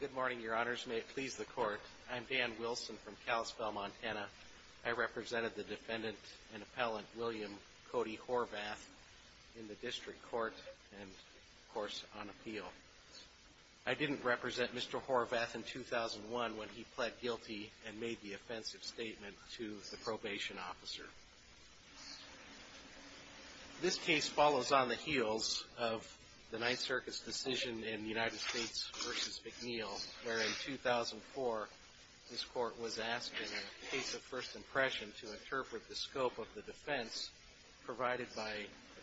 Good morning, your honors. May it please the court. I'm Dan Wilson from Kalispell, Montana. I represented the defendant and appellant William Cody Horvath in the district court and of course on appeal. I didn't represent Mr. Horvath in 2001 when he pled guilty and made the offensive statement to the probation officer. This case follows on the heels of the Ninth Circus decision in United States v. McNeil where in 2004 this court was asked in a case of first impression to interpret the scope of the defense provided by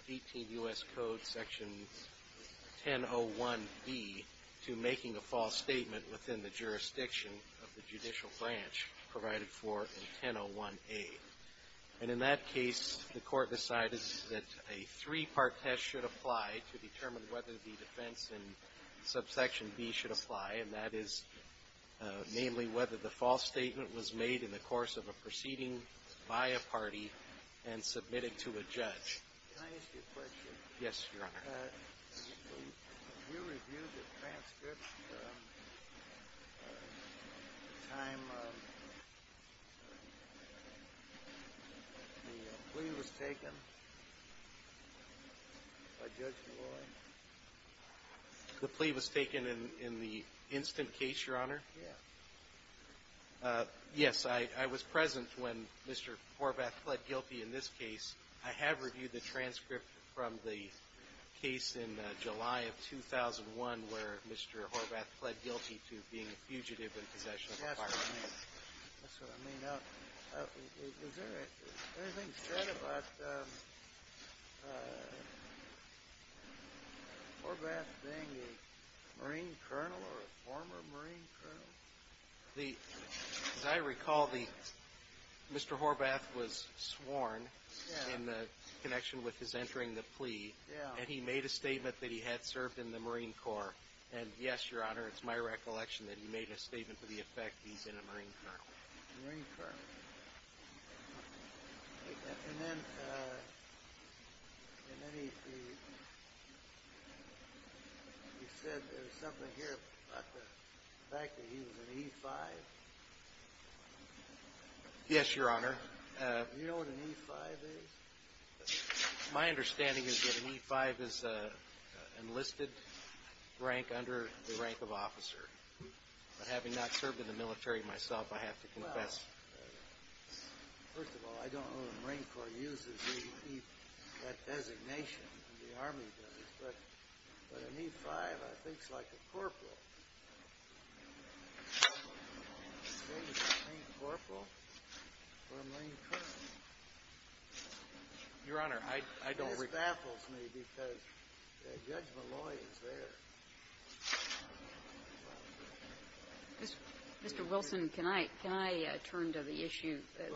18 U.S. Code section 1001B to making a false statement within the court. And in that case, the court decided that a three-part test should apply to determine whether the defense in subsection B should apply, and that is namely whether the false statement was made in the course of a proceeding by a party and submitted to a judge. Can I ask you a question? Yes, your honor. We reviewed the transcript the time of the plea. The plea was taken in the instant case, your honor? Yes. Yes, I was present when Mr. Horvath pled guilty in this case. I have reviewed the transcript from the case in July of 2001 where Mr. Horvath pled guilty to being a fugitive in possession of a firearm. That's what I read. Anything said about Horvath being a Marine colonel or a former Marine colonel? As I recall, Mr. Horvath was sworn in connection with his entering the plea, and he made a statement that he had served in the Marine Corps. And yes, your honor, it's my recollection that he made a statement to the effect that he's been a Marine colonel. And then he said there was something here about the fact that he was an E-5? Yes, your honor. Do you know what an E-5 is? My understanding is that an E-5 is an enlisted rank under the rank of a Marine officer. But having not served in the military myself, I have to confess. Well, first of all, I don't know the Marine Corps uses that designation, the Army does, but an E-5, I think, is like a corporal. A Marine corporal or a Marine colonel. Your honor, I don't recall. It baffles me because Judge Malloy is there. Judge Malloy is a Marine corporal. Mr. Wilson, can I turn to the issue that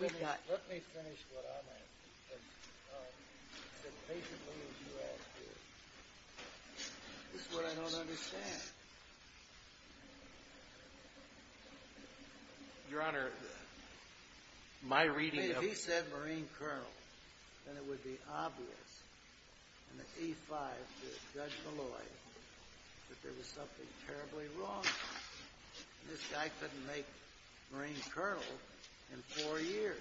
we've got? Well, let me finish what I'm asking, because basically what you asked is, this is what I don't understand. Your honor, my reading of it. If he said Marine colonel, then it would be obvious in the E-5 to Judge Malloy that there was something terribly wrong with it. This guy couldn't make Marine colonel in four years.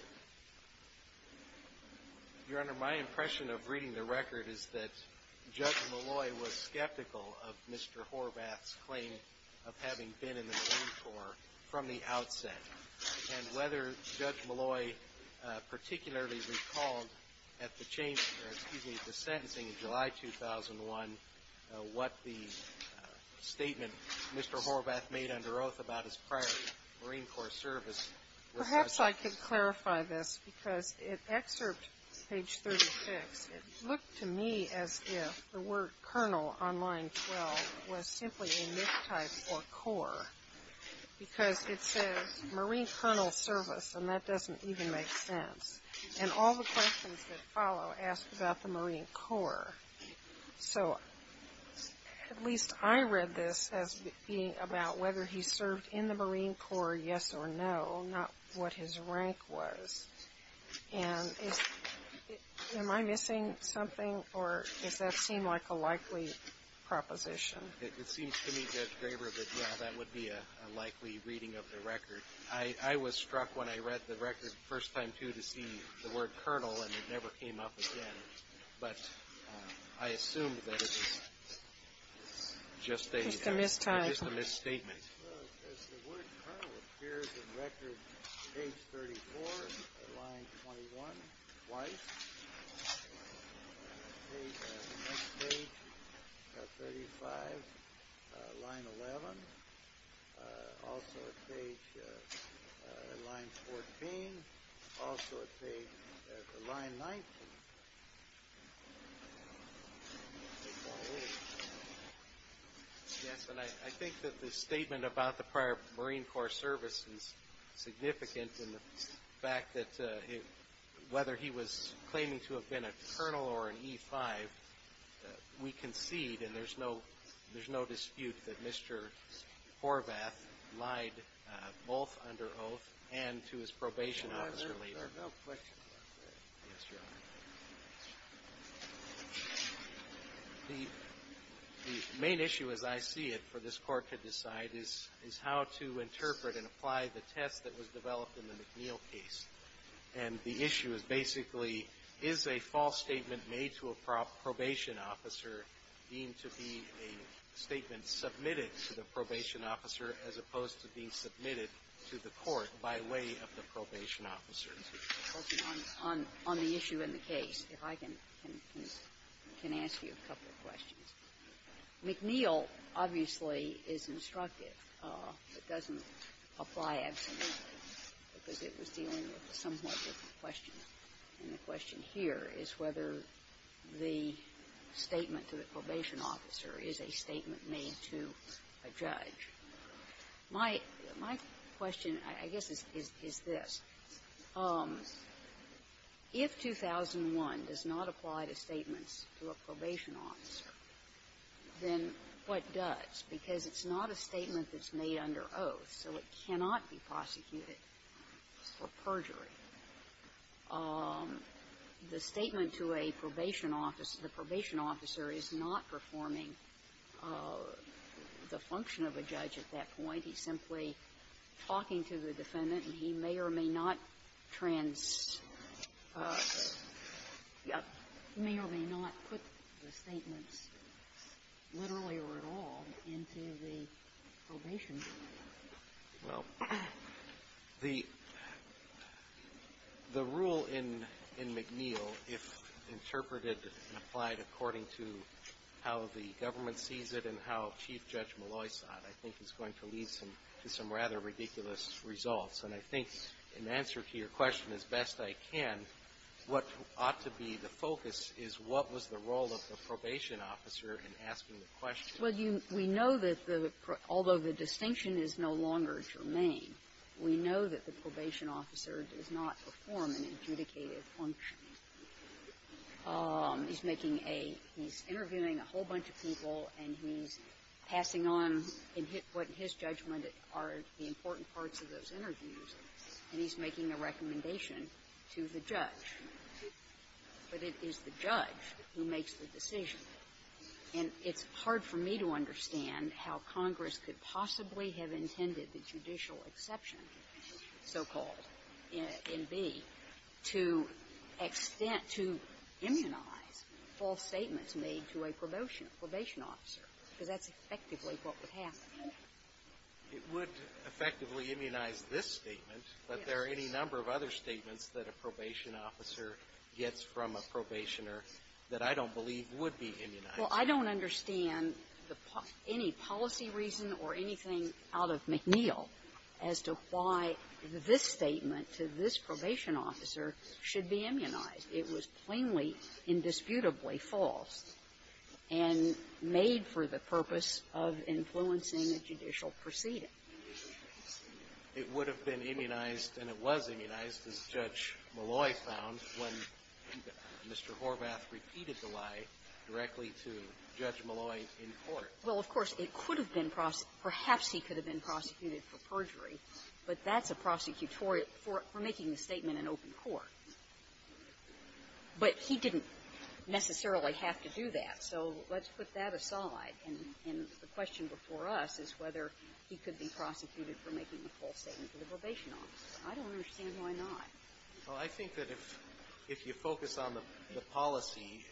Your honor, my impression of reading the record is that Judge Malloy was skeptical of Mr. Horvath's claim of having been in the Marine Corps from the outset. And whether Judge Malloy particularly recalled at the changing, or excuse me, at the sentencing in July 2001, what the statement Mr. Horvath made under oath about his prior Marine Corps service was. Perhaps I could clarify this, because at excerpt page 36, it looked to me as if the word colonel on line 12 was simply a mistype for corps, because it says Marine colonel service, and that doesn't even make sense. And all the questions that follow ask about the Marine Corps. So at least I read this as being about whether he served in the Marine Corps, yes or no, not what his rank was. And am I missing something, or does that seem like a likely proposition? It seems to me, Judge Graber, that yeah, that would be a likely reading of the record. I was struck when I read the record the first time, too, to see the word colonel, and it never came up again. But I assumed that it was just a misstatement. As the word colonel appears in record, page 34, line 21, twice, page 35, line 11, also at page, line 14, also at page, line 19. Yes, and I think that the statement about the prior Marine Corps service is significant in the fact that whether he was claiming to have been a colonel or an E-5, we concede, and there's no dispute that Mr. Horvath lied both under oath and to his probation officer later. No question about that. The main issue, as I see it, for this Court to decide is how to interpret and apply the test that was developed in the McNeil case. And the issue is basically, is a false statement made to a probation officer deemed to be a statement submitted to the probation officer as opposed to being submitted to the court by way of the probation officer? On the issue in the case, if I can ask you a couple of questions. McNeil, obviously, is instructive. It doesn't apply absolutely, because it was dealing with a somewhat different question. And the question here is whether the statement to the probation officer is a statement made to a judge. My question, I guess, is this. If 2001 does not apply to statements to a probation officer, then what does? Because it's not a statement that's made under oath, so it cannot be prosecuted for perjury. The statement to a probation officer, the probation officer is not performing the function of a judge at that point. He's simply talking to the defendant, and he may or may not trans – may or may not put the statements, literally or at all, into the probation. Well, the rule in McNeil, if interpreted and applied according to how the government sees it and how Chief Judge Molloy saw it, I think is going to lead to some rather ridiculous results. And I think, in answer to your question as best I can, what ought to be the focus is what was the role of the probation officer in asking the question. Although the distinction is no longer germane, we know that the probation officer does not perform an adjudicated function. He's making a – he's interviewing a whole bunch of people, and he's passing on what, in his judgment, are the important parts of those interviews, and he's making a recommendation to the judge. But it is the judge who makes the decision. And it's hard for me to understand how Congress could possibly have intended the judicial exception, so-called, in B, to extend – to immunize false statements made to a probation – probation officer, because that's effectively what would happen. It would effectively immunize this statement, but there are any number of other reasons why a probation officer gets from a probationer that I don't believe would be immunized. Well, I don't understand the – any policy reason or anything out of McNeil as to why this statement to this probation officer should be immunized. It was plainly, indisputably false and made for the purpose of influencing a judicial proceeding. It would have been immunized, and it was immunized, as Judge Malloy found, when Mr. Horvath repeated the lie directly to Judge Malloy in court. Well, of course, it could have been – perhaps he could have been prosecuted for perjury, but that's a prosecutorial – for making a statement in open court. But he didn't necessarily have to do that, so let's put that aside. And the question before us is whether he could be prosecuted for making a false statement to the probation officer. I don't understand why not. Well, I think that if – if you focus on the policy,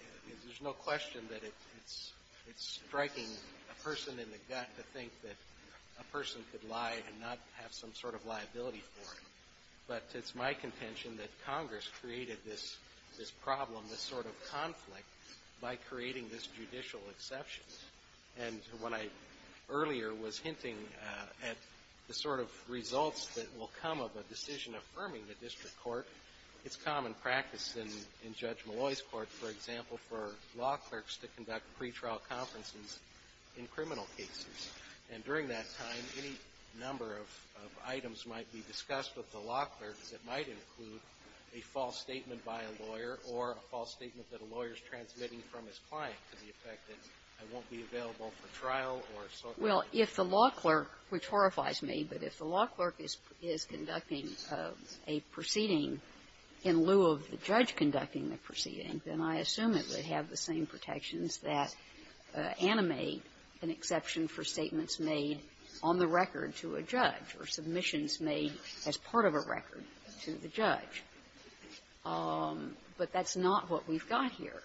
there's no question that it's – it's striking a person in the gut to think that a person could lie and not have some sort of liability for it. But it's my contention that Congress created this problem, this sort of conflict, by creating this judicial exception. And when I earlier was hinting at the sort of results that will come of a decision affirming the district court, it's common practice in Judge Malloy's court, for example, for law clerks to conduct pretrial conferences in criminal cases. And during that time, any number of items might be discussed with the law clerks. It might include a false statement by a lawyer or a false statement that a lawyer's transmitting from his client to the effect that it won't be available for trial or so forth. Well, if the law clerk, which horrifies me, but if the law clerk is conducting a proceeding in lieu of the judge conducting the proceeding, then I assume it would have the same protections that animate an exception for statements made on the record to a judge or submissions made as part of a record to the judge. But that's not what we've got here.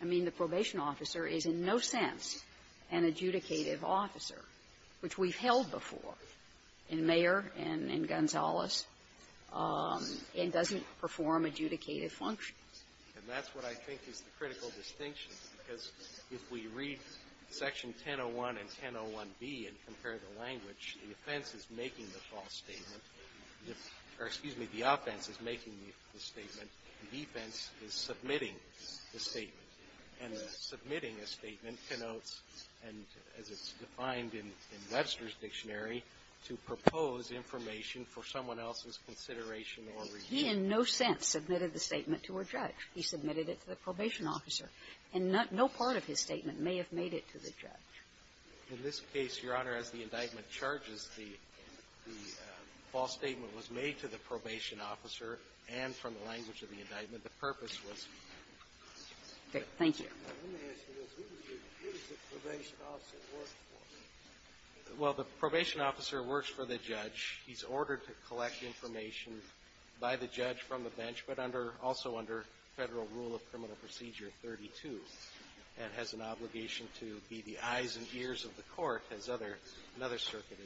I mean, the probation officer is in no sense an adjudicative officer, which we've held before in Mayer and in Gonzales, and doesn't perform adjudicative functions. And that's what I think is the critical distinction, because if we read Section 101 and 101B and compare the language, the offense is making the false statement or, excuse me, the offense is making the statement, the defense is submitting the statement. And the submitting a statement connotes, and as it's defined in Webster's dictionary, to propose information for someone else's consideration or review. He in no sense submitted the statement to a judge. He submitted it to the probation officer. And no part of his statement may have made it to the judge. In this case, Your Honor, as the indictment charges, the false statement was made to the probation officer and from the language of the indictment. The purpose was to the judge. Thank you. Let me ask you this. Who does the probation officer work for? Well, the probation officer works for the judge. He's ordered to collect information by the judge from the bench, but under also Federal Rule of Criminal Procedure 32, and has an obligation to be the eyes and ears of the court, as another circuit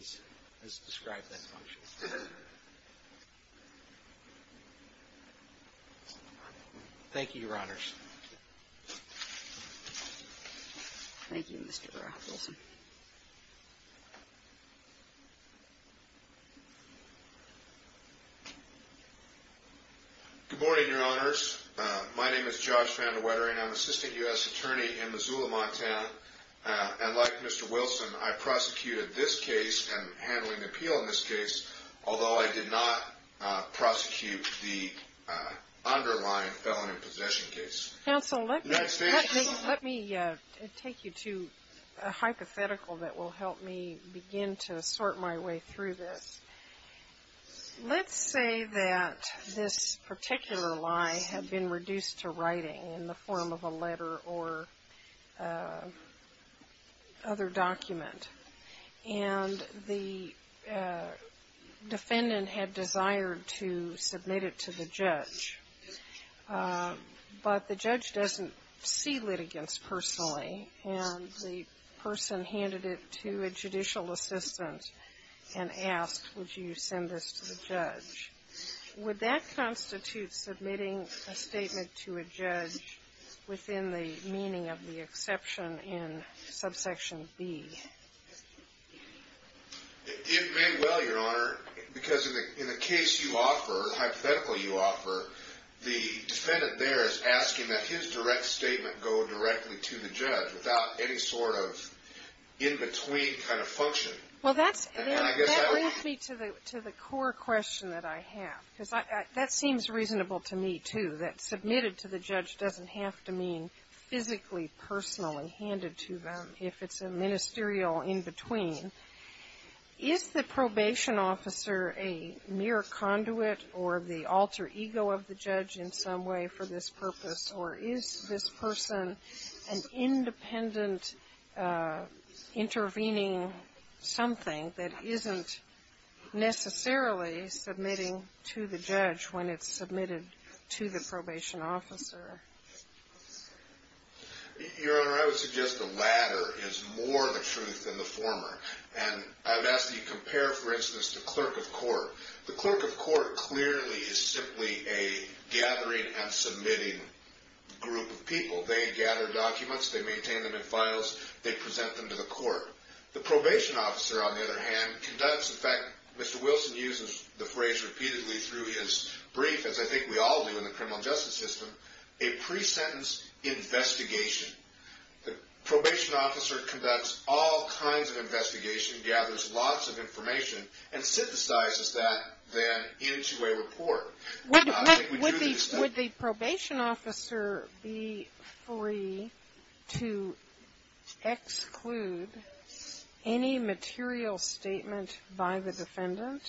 has described that function. Thank you, Your Honors. Thank you, Mr. Baroff-Wilson. Good morning, Your Honors. My name is Josh Vandewetter, and I'm Assistant U.S. Attorney in Missoula-Montana. And like Mr. Wilson, I prosecuted this case and handling the appeal in this case, although I did not prosecute the underlying felony possession case. Counsel, let me take you to a hypothetical that will help me begin to sort my way through this. Let's say that this particular lie had been reduced to writing in the form of a letter or other document, and the defendant had desired to submit it to the judge, but the judge doesn't see litigants personally. And the person handed it to a judicial assistant and asked, would you send this to the judge? Would that constitute submitting a statement to a judge within the meaning of the exception in Subsection B? It may well, Your Honor, because in the case you offer, the hypothetical you submit to the judge without any sort of in-between kind of function. Well, that brings me to the core question that I have, because that seems reasonable to me, too, that submitted to the judge doesn't have to mean physically, personally handed to them if it's a ministerial in-between. Is the probation officer a mere conduit or the alter ego of the judge in some way for this purpose, or is this person an independent intervening something that isn't necessarily submitting to the judge when it's submitted to the probation officer? Your Honor, I would suggest the latter is more the truth than the former. And I've asked you to compare, for instance, the clerk of court. The clerk of court clearly is simply a gathering and submitting group of people. They gather documents, they maintain them in files, they present them to the court. The probation officer, on the other hand, conducts, in fact, Mr. Wilson uses the phrase repeatedly through his brief, as I think we all do in the criminal justice system, a pre-sentence investigation. The probation officer conducts all kinds of investigation, gathers lots of documents, and puts that then into a report. Would the probation officer be free to exclude any material statement by the defendant?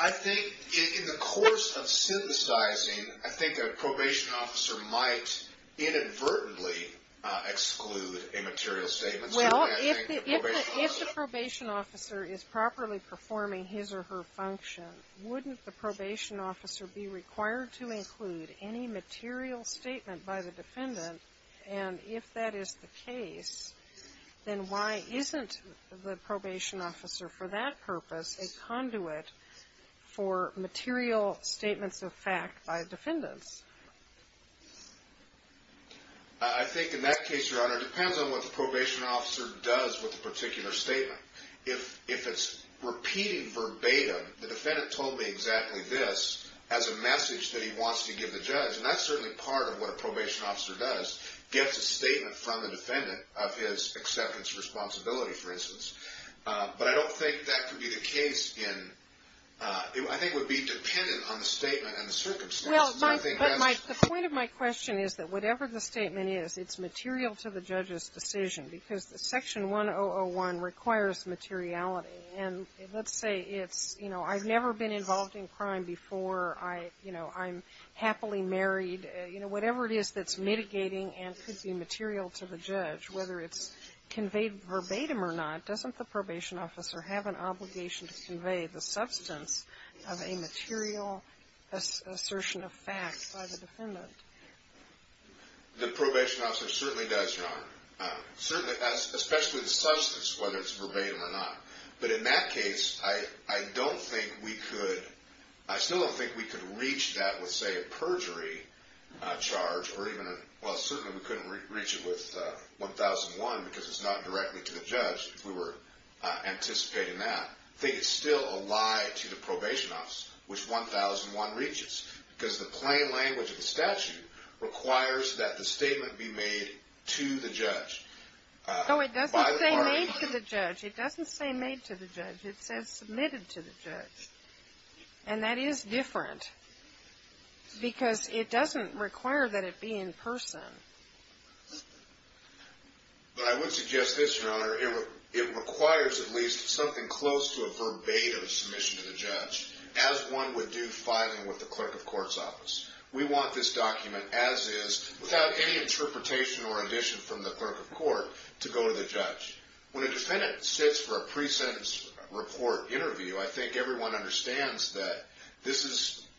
I think in the course of synthesizing, I think a probation officer might inadvertently exclude a material statement. Well, if the probation officer is properly performing his or her function, wouldn't the probation officer be required to include any material statement by the defendant? And if that is the case, then why isn't the probation officer, for that purpose, a conduit for material statements of fact by defendants? I think in that case, Your Honor, it depends on what the probation officer does with the particular statement. If it's repeated verbatim, the defendant told me exactly this as a message that he wants to give the judge, and that's certainly part of what a probation officer does, gets a statement from the defendant of his acceptance responsibility, for instance. But I don't think that could be the case in, I think it would be dependent on the statement and the circumstances. Well, the point of my question is that whatever the statement is, it's material to the judge's decision, because Section 1001 requires materiality. And let's say it's, you know, I've never been involved in crime before. I, you know, I'm happily married. You know, whatever it is that's mitigating and could be material to the judge, whether it's conveyed verbatim or not, doesn't the probation officer have an obligation to convey the substance of a material assertion of fact by the defendant? The probation officer certainly does, Your Honor. Certainly, especially the substance, whether it's verbatim or not. But in that case, I don't think we could, I still don't think we could reach that with, say, a perjury charge or even a, well, certainly we couldn't reach it with 1001 because it's not directly to the judge, if we were anticipating that. I think it's still a lie to the probation officer, which 1001 reaches, because the plain language of the statute requires that the statement be made to the judge. No, it doesn't say made to the judge. It doesn't say made to the judge. It says submitted to the judge. And that is different because it doesn't require that it be in person. But I would suggest this, Your Honor. It requires at least something close to a verbatim submission to the judge, as one would do filing with the clerk of court's office. We want this document as is, without any interpretation or addition from the clerk of court, to go to the judge. When a defendant sits for a pre-sentence report interview, I think everyone understands that this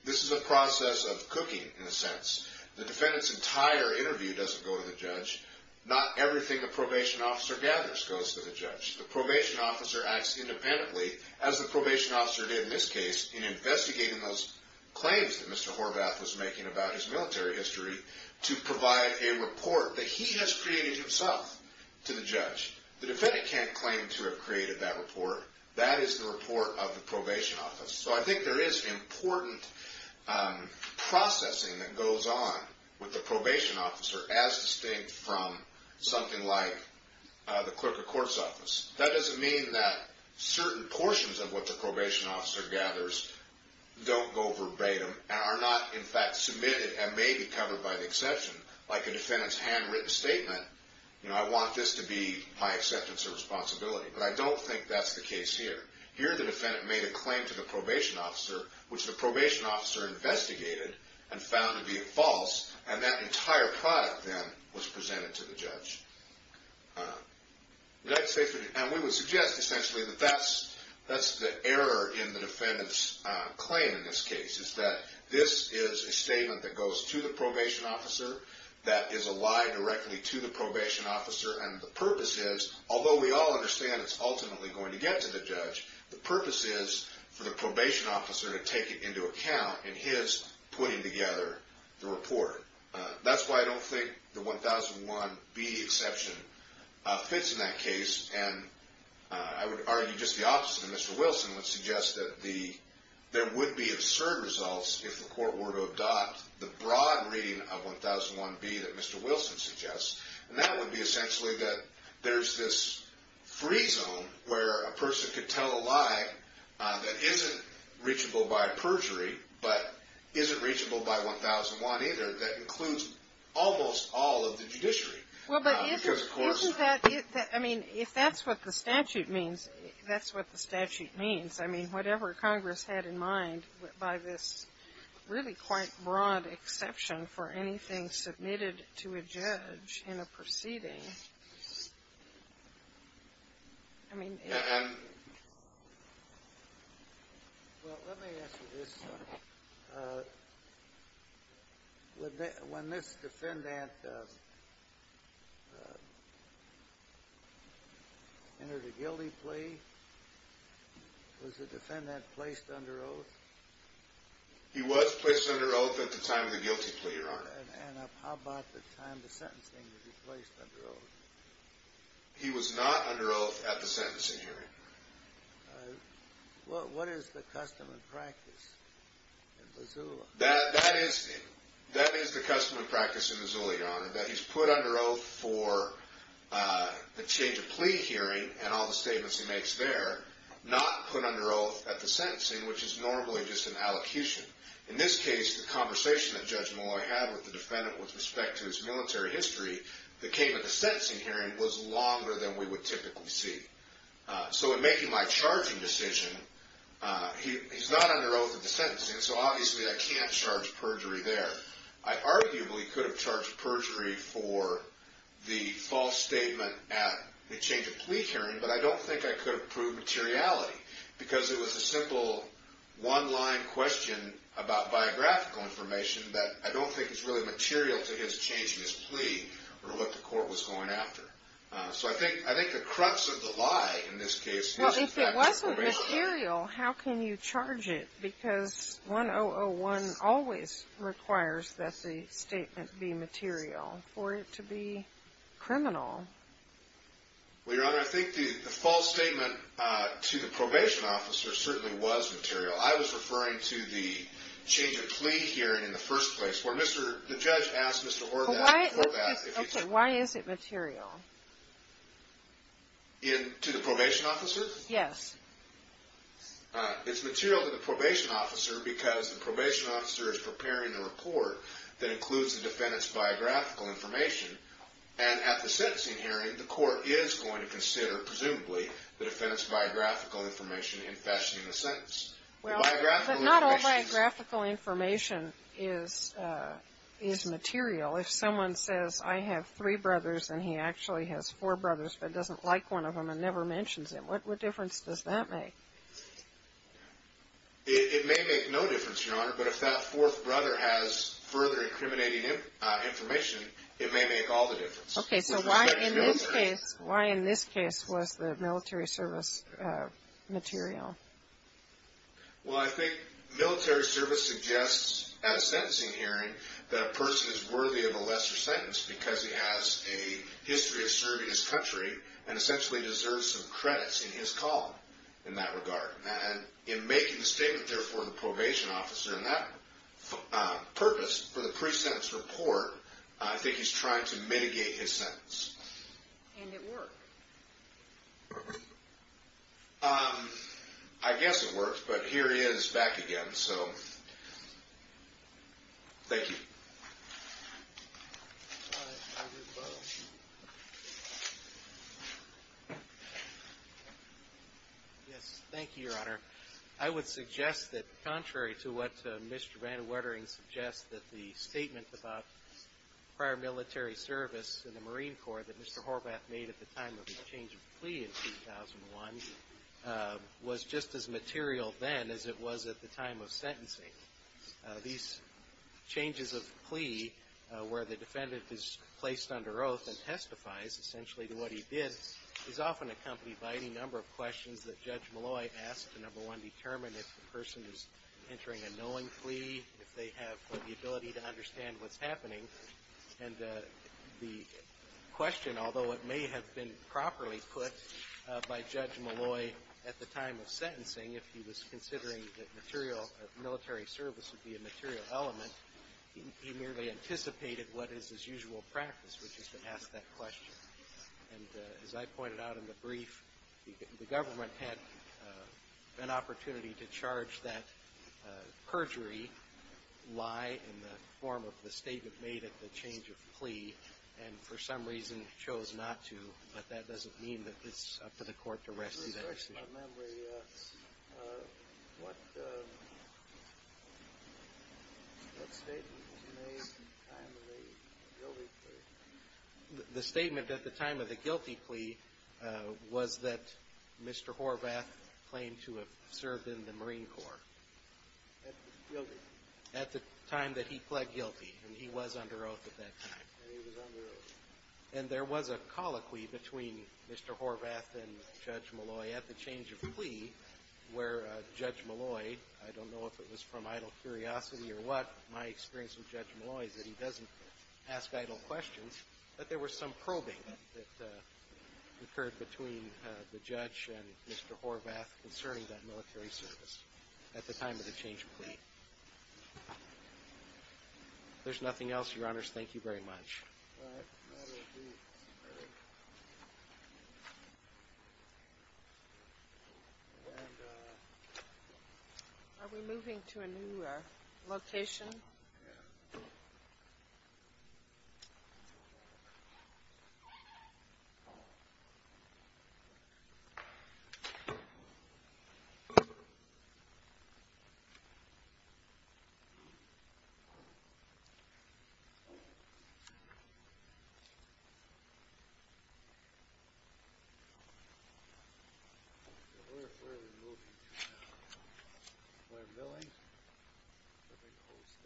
is a process of cooking, in a sense. The defendant's entire interview doesn't go to the judge. Not everything a probation officer gathers goes to the judge. The probation officer acts independently, as the probation officer did in this case, in investigating those claims that Mr. Horvath was making about his military history, to provide a report that he has created himself to the judge. The defendant can't claim to have created that report. That is the report of the probation office. So I think there is important processing that goes on with the probation officer, as distinct from something like the clerk of court's office. That doesn't mean that certain portions of what the probation officer gathers don't go verbatim, and are not, in fact, submitted and may be covered by the exception. Like a defendant's handwritten statement, I want this to be my acceptance of responsibility. But I don't think that's the case here. Here the defendant made a claim to the probation officer, which the probation officer investigated and found to be false, and that entire product then was presented to the judge. And we would suggest, essentially, that that's the error in the defendant's claim in this case, is that this is a statement that goes to the probation officer, that is a lie directly to the probation officer, and the purpose is, although we all understand it's ultimately going to get to the judge, the purpose is for the probation officer to take it into account in his putting together the report. That's why I don't think the 1001B exception fits in that case. And I would argue just the opposite. And Mr. Wilson would suggest that there would be absurd results if the court were to adopt the broad reading of 1001B that Mr. Wilson suggests. And that would be, essentially, that there's this free zone where a person could tell a lie that isn't reachable by perjury, but isn't reachable by 1001 either, that includes almost all of the judiciary. Because, of course — Well, but isn't that — I mean, if that's what the statute means, that's what the statute means. I mean, whatever Congress had in mind, by this really quite broad exception for anything submitted to a judge in a proceeding, I mean — Well, let me ask you this. When this defendant entered a guilty plea, was the defendant placed under oath? He was placed under oath at the time of the guilty plea, Your Honor. And how about the time of the sentencing, was he placed under oath? He was not under oath at the sentencing hearing. What is the custom and practice in Missoula? That is the custom and practice in Missoula, Your Honor, that he's put under oath for the change of plea hearing and all the statements he makes there, not put under oath at the sentencing, which is normally just an allocution. In this case, the conversation that Judge Malloy had with the defendant with respect to his military history that came at the sentencing hearing was longer than we would typically see. So in making my charging decision, he's not under oath at the sentencing, so obviously I can't charge perjury there. I arguably could have charged perjury for the false statement at the change of materiality, because it was a simple one-line question about biographical information that I don't think is really material to his change in his plea or what the court was going after. So I think the crux of the lie in this case is, in fact, the reality. Well, if it wasn't material, how can you charge it? Because 1001 always requires that the statement be material for it to be criminal. Well, Your Honor, I think the false statement to the probation officer certainly was material. I was referring to the change of plea hearing in the first place, where the judge asked Mr. Horvath if he could. Okay, why is it material? To the probation officer? Yes. It's material to the probation officer because the probation officer is preparing a report that includes the defendant's biographical information, and at the sentencing hearing, the court is going to consider, presumably, the defendant's biographical information in fashioning the sentence. Well, but not all biographical information is material. If someone says, I have three brothers, and he actually has four brothers, but doesn't like one of them and never mentions him, what difference does that make? It may make no difference, Your Honor, but if that fourth brother has further incriminating information, it may make all the difference. Okay, so why in this case was the military service material? Well, I think military service suggests, at a sentencing hearing, that a person is worthy of a lesser sentence because he has a history of serving his country and essentially deserves some credits in his call in that regard. And in making the statement there for the probation officer and that purpose for the pre-sentence report, I think he's trying to mitigate his sentence. And it worked? I guess it worked, but here he is back again, so thank you. Thank you, Your Honor. I would suggest that, contrary to what Mr. Van Wettering suggests, that the statement about prior military service in the Marine Corps that Mr. Horvath made at the time of his change of plea in 2001 was just as material then as it was at the time of sentencing. These changes of plea where the defendant is placed under oath and testifies essentially to what he did is often accompanied by any number of questions that Judge Molloy asked to, number one, determine if the person is entering a knowing plea, if they have the ability to understand what's happening. And the question, although it may have been properly put by Judge Molloy at the time of sentencing, if he was considering that military service would be a material element, he merely anticipated what is his usual practice, which is to ask that question. And as I pointed out in the brief, the government had an opportunity to charge that perjury lie in the form of the statement made at the change of plea, and for some reason chose not to, but that doesn't mean that it's up to the court to rescue that decision. I don't remember what statement was made at the time of the guilty plea. The statement at the time of the guilty plea was that Mr. Horvath claimed to have served in the Marine Corps. Guilty. At the time that he pled guilty, and he was under oath at that time. He was under oath. And there was a colloquy between Mr. Horvath and Judge Molloy at the change of plea, where Judge Molloy, I don't know if it was from idle curiosity or what, my experience with Judge Molloy is that he doesn't ask idle questions, but there was some probing that occurred between the judge and Mr. Horvath concerning that military service at the time of the change of plea. If there's nothing else, Your Honors, thank you very much. Thank you. Are we moving to a new location? Yes. Let's go back. Where are we moving to now? Covering the whole state.